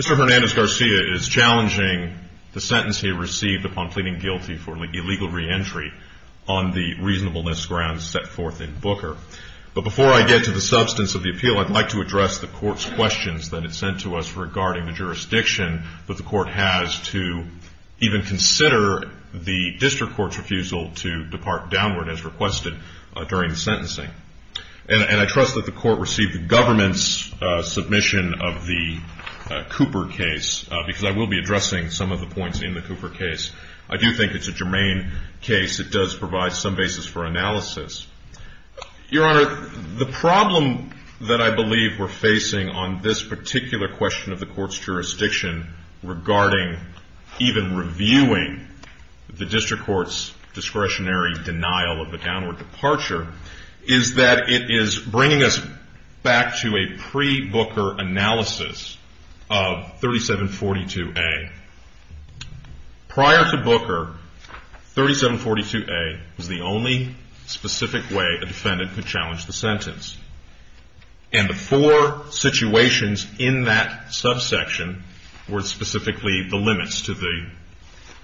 Mr. Hernandez-Garcia is challenging the sentence he received upon pleading guilty for illegal reentry on the reasonableness grounds set forth in Booker. But before I get to the substance of the appeal, I'd like to address the court's questions that it sent to us regarding the jurisdiction that the court has to even consider the district court's refusal to depart downward as requested during the sentencing. And I trust that the court received the government's submission of the Cooper case, because I will be addressing some of the points in the Cooper case. I do think it's a germane case. It does provide some basis for analysis. Your Honor, the problem that I believe we're facing on this particular question of the court's jurisdiction regarding even reviewing the district court's discretionary denial of the downward departure is that it is bringing us back to a pre-Booker analysis of 3742A. Prior to Booker, 3742A was the only specific way a defendant could challenge the sentence. And the four situations in that subsection were specifically the limits to the review.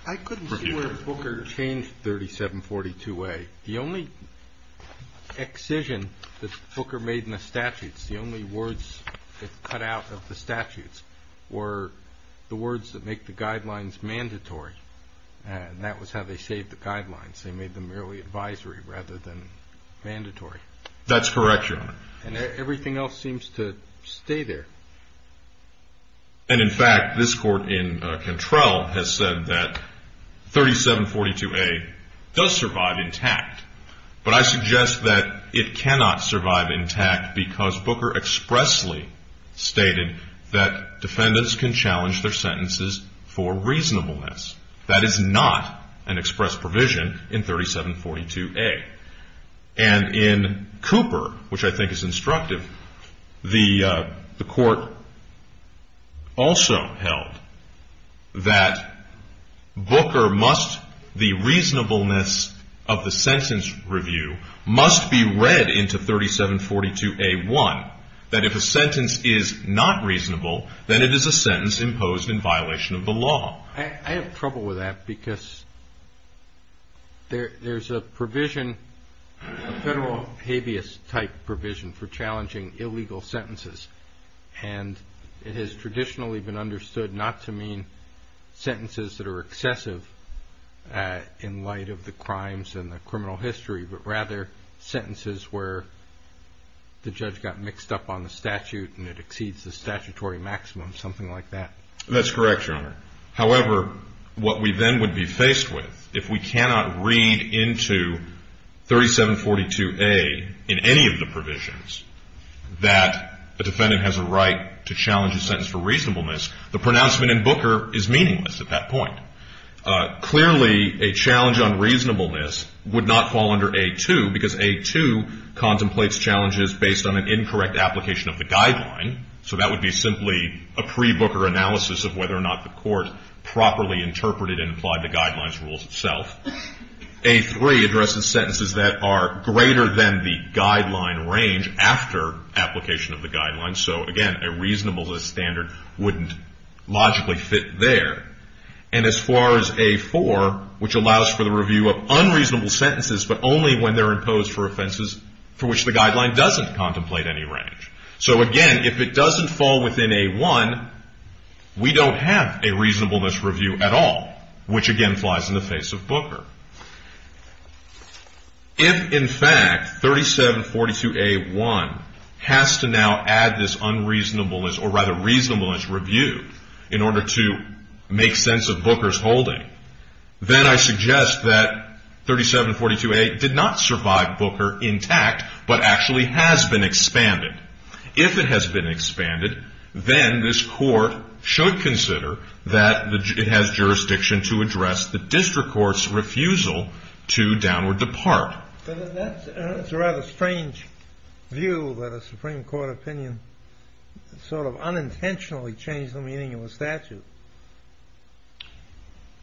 I couldn't see where Booker changed 3742A. The only excision that Booker made in the guidelines mandatory, and that was how they shaped the guidelines. They made them merely advisory rather than mandatory. That's correct, Your Honor. And everything else seems to stay there. And in fact, this court in Cantrell has said that 3742A does survive intact. But I suggest that it cannot survive intact because Booker expressly stated that defendants can challenge their sentences for reasonableness. That is not an express provision in 3742A. And in Cooper, which I think is instructive, the court also held that the reasonableness of the sentence review must be read into 3742A1, that if a sentence is not reasonable, then it is a sentence imposed in violation of the law. I have trouble with that because there's a provision, a federal habeas type provision for challenging illegal sentences. And it has traditionally been understood not to mean sentences that are excessive in light of the crimes and the criminal history, but rather sentences where the judge got mixed up on the statute and it exceeds the statutory maximum or something like that. That's correct, Your Honor. However, what we then would be faced with if we cannot read into 3742A in any of the provisions that a defendant has a right to challenge a sentence for reasonableness, the pronouncement in Booker is meaningless at that point. Clearly, a challenge on reasonableness would not fall under A2 because A2 contemplates challenges based on an incorrect application of the guideline. So that would be simply a pre-Booker analysis of whether or not the court properly interpreted and applied the guidelines rules itself. A3 addresses sentences that are greater than the guideline range after application of the guidelines. So again, a reasonableness standard wouldn't logically fit there. And as far as A4, which allows for the review of unreasonable sentences, but only when they're reasonable, the guideline doesn't contemplate any range. So again, if it doesn't fall within A1, we don't have a reasonableness review at all, which again flies in the face of Booker. If, in fact, 3742A1 has to now add this unreasonableness or rather reasonableness review in order to make sense of Booker's holding, then I suggest that 3742A did not survive Booker intact, but actually has been expanded. If it has been expanded, then this court should consider that it has jurisdiction to address the district court's refusal to downward depart. But that's a rather strange view that a Supreme Court opinion sort of unintentionally changed the meaning of a statute.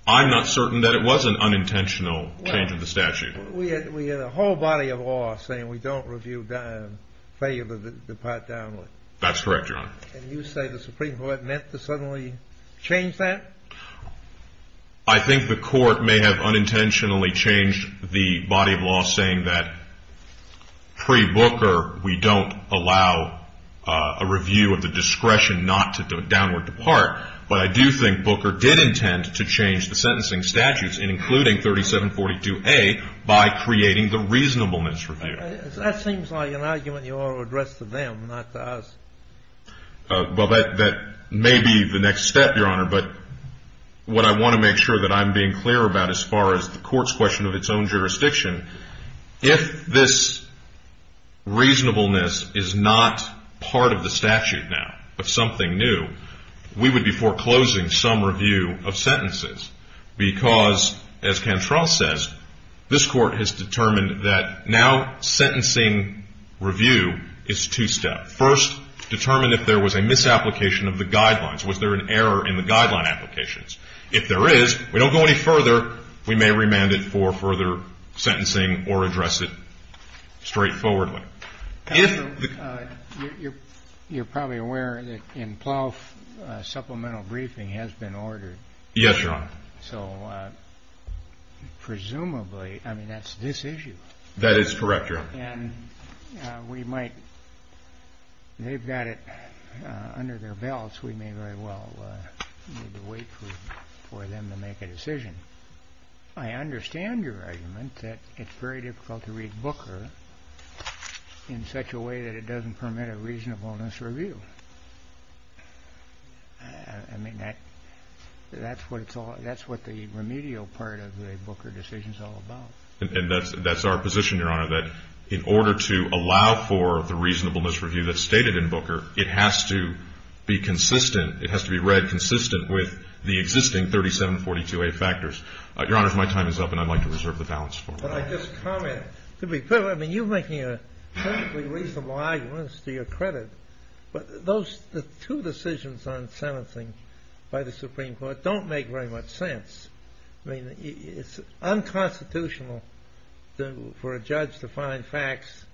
I'm not certain that it was an unintentional change of the statute. We had a whole body of law saying we don't review failure to depart downward. That's correct, Your Honor. And you say the Supreme Court meant to suddenly change that? I think the court may have unintentionally changed the body of law saying that pre-Booker, we don't allow a review of the discretion not to downward depart. But I do think Booker did intend to change the sentencing statutes, including 3742A, by creating the reasonableness review. That seems like an argument you ought to address to them, not to us. Well, that may be the next step, Your Honor. But what I want to make sure that I'm being clear about as far as the court's question of its own jurisdiction, if this reasonableness is not part of the statute now, we would be foreclosing some review of sentences because, as Cantrell says, this Court has determined that now sentencing review is two-step. First, determine if there was a misapplication of the guidelines. Was there an error in the guideline applications? If there is, we don't go any further. We may remand it for further sentencing or address it straightforwardly. Counsel, you're probably aware that in Plough supplemental briefing has been ordered. Yes, Your Honor. So presumably, I mean, that's this issue. That is correct, Your Honor. And we might, they've got it under their belts. We may very well need to wait for them to make a decision. I understand your argument that it's very difficult to read Booker in such a way that it doesn't permit a reasonableness review. I mean, that's what it's all, that's what the remedial part of the Booker decision is all about. And that's our position, Your Honor, that in order to allow for the reasonableness review that's stated in Booker, it has to be consistent, it has to be read consistent with the existing 3742A factors. Your Honor, if my time is up and I'd like to reserve the balance for it. But I just comment, to be clear, I mean, you're making a perfectly reasonable argument to your credit, but those two decisions on sentencing by the Supreme Court don't make very much sense. I mean, it's unconstitutional for a judge to find facts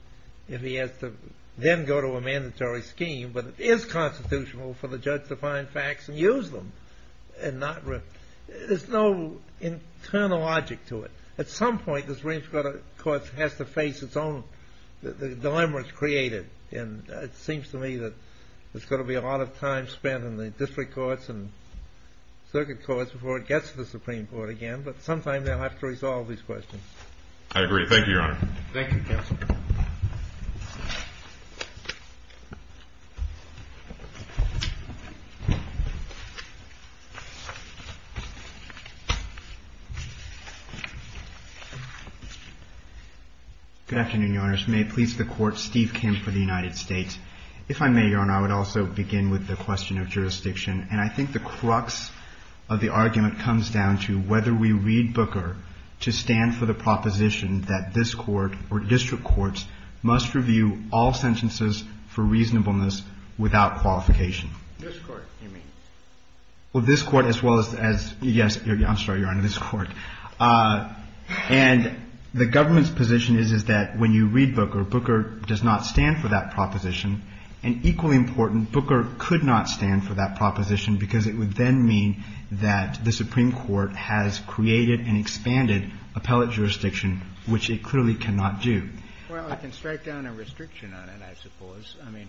if he has to then go to a mandatory scheme, but it is constitutional for the judge to find facts and use them. There's no internal logic to it. At some point, the Supreme Court has to face its own, the dilemma is created, and it seems to me that there's going to be a lot of time spent in the district courts and circuit courts before it gets to the Supreme Court again. But sometime they'll have to resolve these questions. I agree. Thank you, Your Honor. Thank you, counsel. Good afternoon, Your Honors. May it please the Court, Steve Kim for the United States. If I may, Your Honor, I would also begin with the question of jurisdiction. And I think the crux of the argument comes down to whether we read Booker to stand for the proposition that this Court or district courts must review all sentences for reasonableness without qualification. This Court, you mean? Well, this Court as well as, yes, I'm sorry, Your Honor, this Court. And the government's position is that when you read Booker, Booker does not stand for that proposition. And equally important, Booker could not stand for that proposition because it would then mean that the Supreme Court has created and expanded appellate jurisdiction, which it clearly cannot do. Well, I can strike down a restriction on it, I suppose. I mean,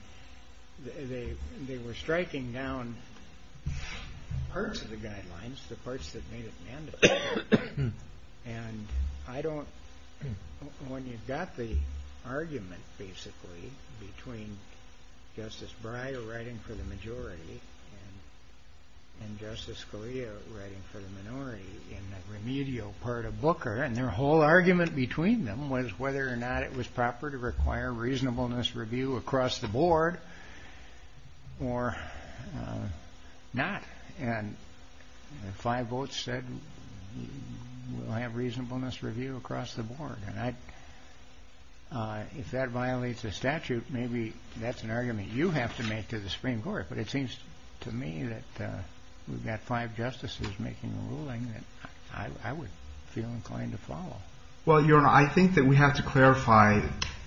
they were striking down parts of the guidelines, the parts that made it mandatory. And I don't, when you've got the argument, basically, between Justice Breyer writing for the majority and Justice Scalia writing for the minority in the remedial part of Booker, and their whole argument between them was whether or not it was proper to require reasonableness review across the board or not. And the five votes said we'll have reasonableness review across the board. And if that violates the statute, maybe that's an argument you have to make to the Supreme Court. But it seems to me that we've got five justices making a ruling that I would feel inclined to follow. Well, Your Honor, I think that we have to clarify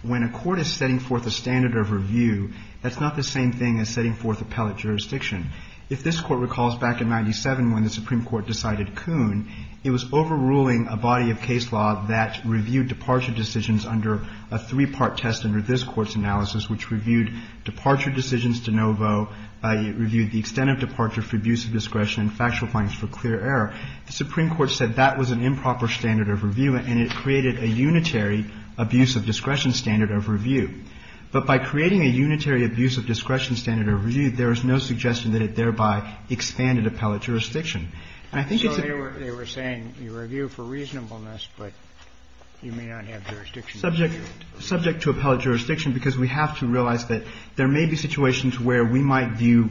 when a court is setting forth a standard of review, that's not the same thing as setting forth appellate jurisdiction. If this Court recalls back in 1997 when the Supreme Court decided Kuhn, it was overruling a body of case law that reviewed departure decisions under a three-part test under this Court's analysis, which reviewed departure decisions de novo, reviewed the extent of departure for abuse of discretion and factual findings for clear error. The Supreme Court said that was an improper standard of review, and it created a unitary abuse of discretion standard of review. But by creating a unitary abuse of discretion standard of review, there is no suggestion that it thereby expanded appellate jurisdiction. And I think it's a very rare case. So they were saying you review for reasonableness, but you may not have jurisdiction to review it. Subject to appellate jurisdiction, because we have to realize that there may be situations where we might view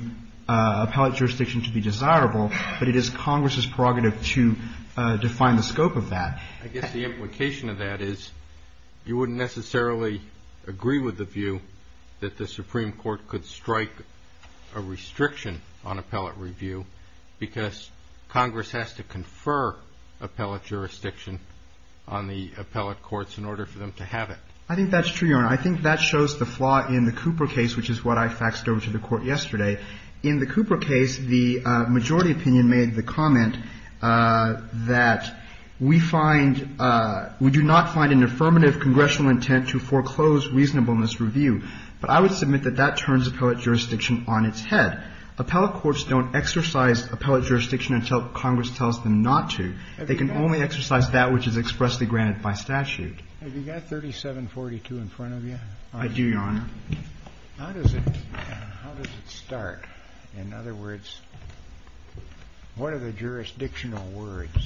appellate jurisdiction to be desirable, but it is Congress's prerogative to define the scope of that. I guess the implication of that is you wouldn't necessarily agree with the view that the Supreme Court could strike a restriction on appellate review because Congress has to confer appellate jurisdiction on the appellate courts in order for them to have it. I think that's true, Your Honor. I think that shows the flaw in the Cooper case, which is what I faxed over to the Court yesterday. In the Cooper case, the majority opinion made the comment that we find we do not find an affirmative congressional intent to foreclose reasonableness review. But I would submit that that turns appellate jurisdiction on its head. Appellate courts don't exercise appellate jurisdiction until Congress tells them not to. They can only exercise that which is expressly granted by statute. Have you got 3742 in front of you? I do, Your Honor. How does it start? In other words, what are the jurisdictional words?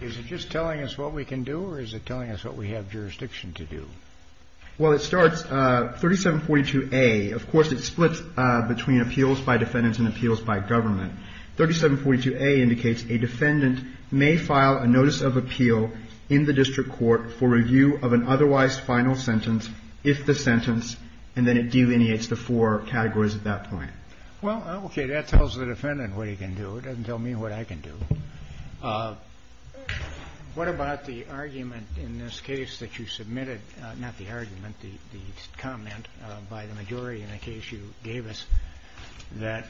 Is it just telling us what we can do, or is it telling us what we have jurisdiction to do? Well, it starts 3742a. Of course, it splits between appeals by defendants and appeals by government. 3742a indicates a defendant may file a notice of appeal in the district court for review of an otherwise final sentence if the sentence, and then it delineates the four categories at that point. Well, okay. That tells the defendant what he can do. It doesn't tell me what I can do. What about the argument in this case that you submitted? Not the argument, the comment by the majority in the case you gave us that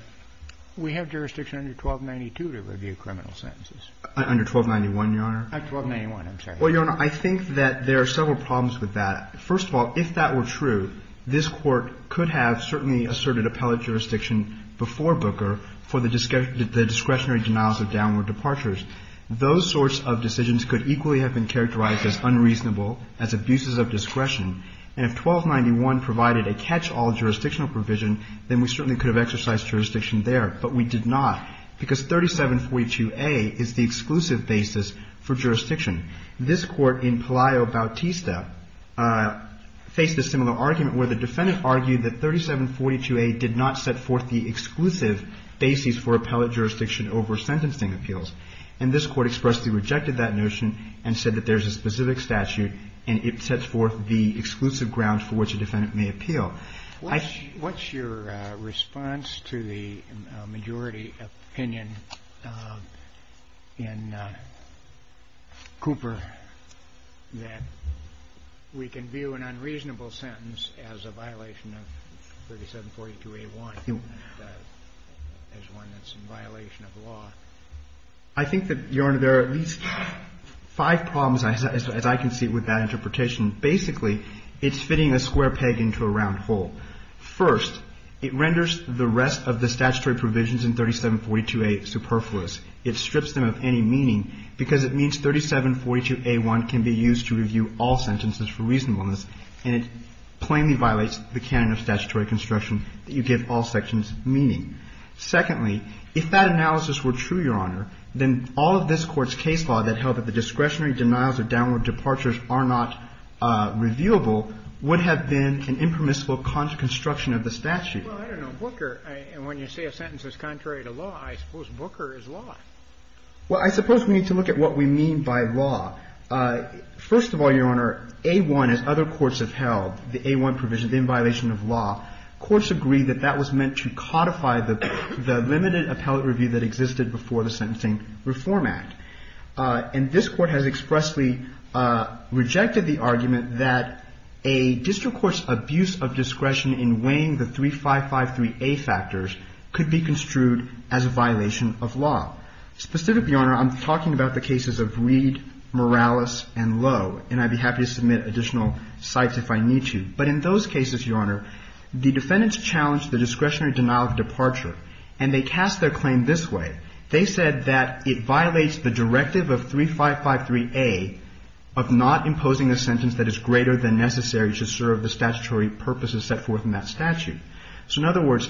we have jurisdiction under 1292 to review criminal sentences. Under 1291, Your Honor? 1291, I'm sorry. Well, Your Honor, I think that there are several problems with that. First of all, if that were true, this Court could have certainly asserted appellate jurisdiction before Booker for the discretionary denials of downward departures. Those sorts of decisions could equally have been characterized as unreasonable, as abuses of discretion, and if 1291 provided a catch-all jurisdictional provision, then we certainly could have exercised jurisdiction there, but we did not because 3742a is the exclusive basis for jurisdiction. This Court in Palaio Bautista faced a similar argument where the defendant argued that 3742a did not set forth the exclusive basis for appellate jurisdiction over sentencing appeals, and this Court expressly rejected that notion and said that there's a specific statute and it sets forth the exclusive grounds for which a defendant may appeal. What's your response to the majority opinion in Cooper that we can view an unreasonable sentence as a violation of 3742a-1, as one that's in violation of law? I think that, Your Honor, there are at least five problems, as I can see, with that interpretation. Basically, it's fitting a square peg into a round hole. First, it renders the rest of the statutory provisions in 3742a superfluous. It strips them of any meaning because it means 3742a-1 can be used to review all sentences for reasonableness, and it plainly violates the canon of statutory construction that you give all sections meaning. Secondly, if that analysis were true, Your Honor, then all of this Court's case law that held that the discretionary denials or downward departures are not reviewable would have been an impermissible construction of the statute. Well, I don't know. Booker, when you say a sentence is contrary to law, I suppose Booker is law. Well, I suppose we need to look at what we mean by law. First of all, Your Honor, A-1, as other courts have held, the A-1 provision, the inviolation of law, courts agree that that was meant to codify the limited appellate review that existed before the Sentencing Reform Act. And this Court has expressly rejected the argument that a district court's abuse of discretion in weighing the 3553a factors could be construed as a violation of law. Specifically, Your Honor, I'm talking about the cases of Reed, Morales, and Lowe, and I'd be happy to submit additional cites if I need to. But in those cases, Your Honor, the defendants challenged the discretionary denial of departure, and they cast their claim this way. They said that it violates the directive of 3553a of not imposing a sentence that is greater than necessary to serve the statutory purposes set forth in that statute. So in other words,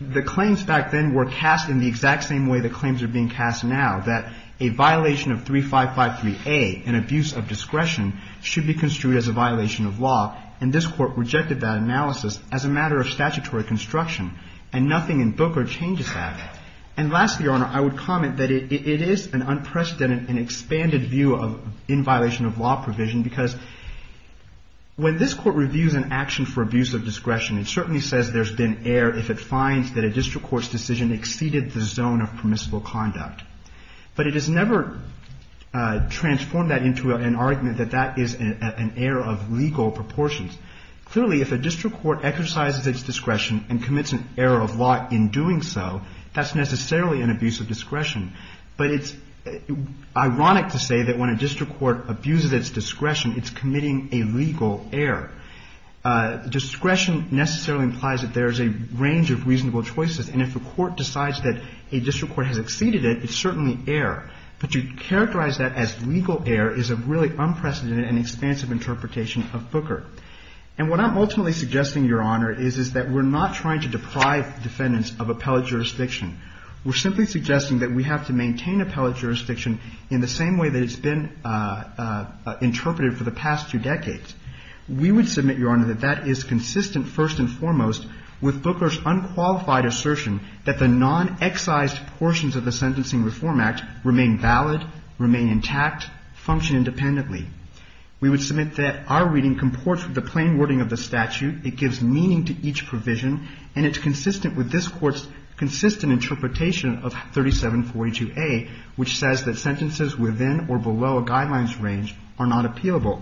the claims back then were cast in the exact same way the claims are being cast now, that a violation of 3553a, an abuse of discretion, should be construed as a violation of law. And this Court rejected that analysis as a matter of statutory construction. And nothing in Booker changes that. And lastly, Your Honor, I would comment that it is an unprecedented and expanded view of inviolation of law provision because when this Court reviews an action for abuse of discretion, it certainly says there's been error if it finds that a district court's decision exceeded the zone of permissible conduct. But it has never transformed that into an argument that that is an error of legal proportions. Clearly, if a district court exercises its discretion and commits an error of law in doing so, that's necessarily an abuse of discretion. But it's ironic to say that when a district court abuses its discretion, it's committing a legal error. Discretion necessarily implies that there's a range of reasonable choices. And if a court decides that a district court has exceeded it, it's certainly error. But to characterize that as legal error is a really unprecedented and expansive interpretation of Booker. And what I'm ultimately suggesting, Your Honor, is that we're not trying to deprive defendants of appellate jurisdiction. We're simply suggesting that we have to maintain appellate jurisdiction in the same way that it's been interpreted for the past two decades. We would submit, Your Honor, that that is consistent first and foremost with Booker's unqualified assertion that the non-excised portions of the Sentencing Reform Act remain valid, remain intact, function independently. We would submit that our reading comports with the plain wording of the statute. It gives meaning to each provision. And it's consistent with this Court's consistent interpretation of 3742A, which says that sentences within or below a guideline's range are not appealable.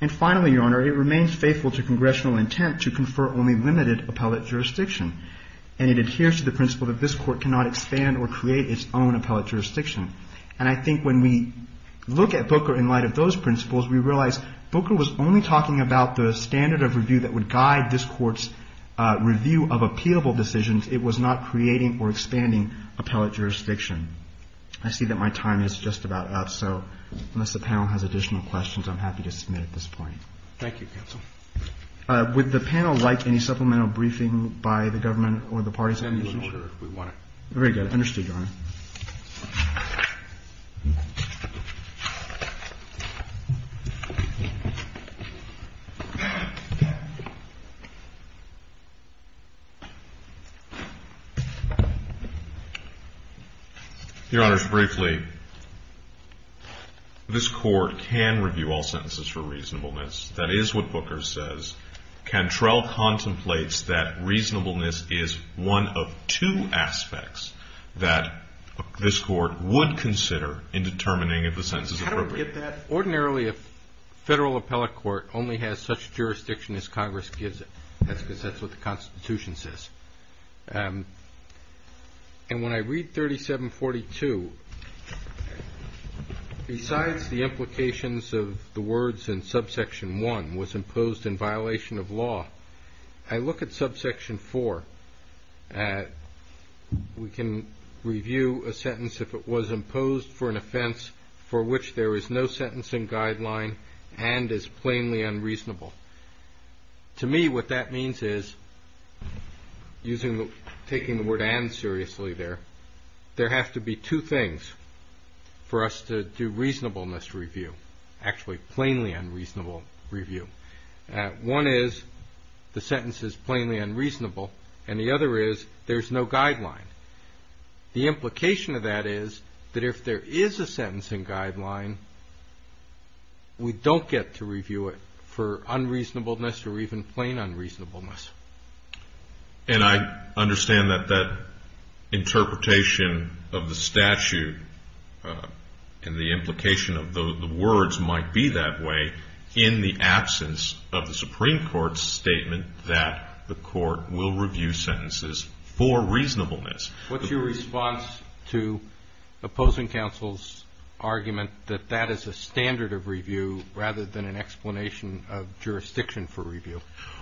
And finally, Your Honor, it remains faithful to congressional intent to confer only limited appellate jurisdiction. And it adheres to the principle that this Court cannot expand or create its own appellate jurisdiction. And I think when we look at Booker in light of those principles, we realize Booker was only talking about the standard of review that would guide this Court's review of appealable decisions. It was not creating or expanding appellate jurisdiction. I see that my time is just about up. So unless the panel has additional questions, I'm happy to submit at this point. Roberts. Thank you, counsel. Would the panel like any supplemental briefing by the government or the parties? Send us an order if we want it. Very good. Understood, Your Honor. Your Honors, briefly, this Court can review all sentences for reasonableness. That is what Booker says. Cantrell contemplates that reasonableness is one of two aspects that this Court would consider in determining if a sentence is appropriate. How do we get that? Ordinarily, a federal appellate court only has such jurisdiction as Congress gives it. That's because that's what the Constitution says. And when I read 3742, besides the implications of the words in Subsection 1, was imposed in violation of law, I look at Subsection 4. We can review a sentence if it was imposed for an offense for which there is no sentencing guideline and is plainly unreasonable. To me, what that means is, taking the word and seriously there, there have to be two things for us to do reasonableness review, actually plainly unreasonable review. One is the sentence is plainly unreasonable, and the other is there's no guideline. The implication of that is that if there is a sentencing guideline, we don't get to review it for unreasonableness or even plain unreasonableness. And I understand that that interpretation of the statute and the implication of the words might be that way in the absence of the Supreme Court's argument that the court will review sentences for reasonableness. What's your response to opposing counsel's argument that that is a standard of review rather than an explanation of jurisdiction for review?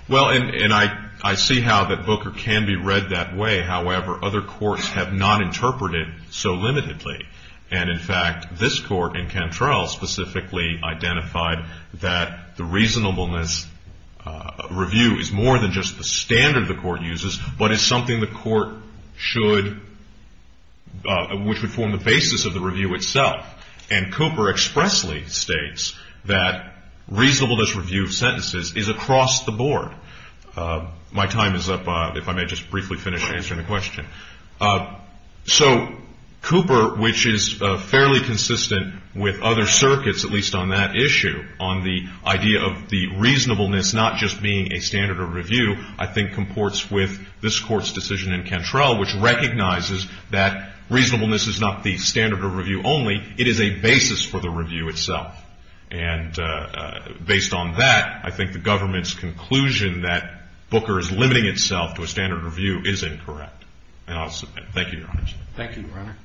Well, and I see how that Booker can be read that way. However, other courts have not interpreted it so limitedly. And in fact, this court in Cantrell specifically identified that the reasonableness review is more than just the standard the court uses, but is something the court should, which would form the basis of the review itself. And Cooper expressly states that reasonableness review of sentences is across the board. My time is up, if I may just briefly finish answering the question. So Cooper, which is fairly consistent with other circuits, at least on that issue, on the idea of the reasonableness not just being a standard of review, I think comports with this court's decision in Cantrell, which recognizes that reasonableness is not the standard of review only. It is a basis for the review itself. And based on that, I think the government's conclusion that Booker is limiting itself to a standard of review is incorrect. And I'll submit. Thank you, Your Honor. Thank you, Your Honor.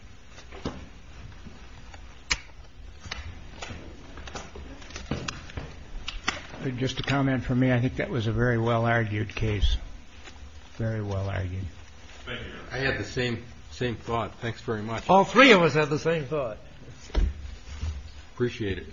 Just a comment from me. I think that was a very well-argued case, very well-argued. Thank you, Your Honor. I had the same thought. Thanks very much. All three of us had the same thought. Appreciate it.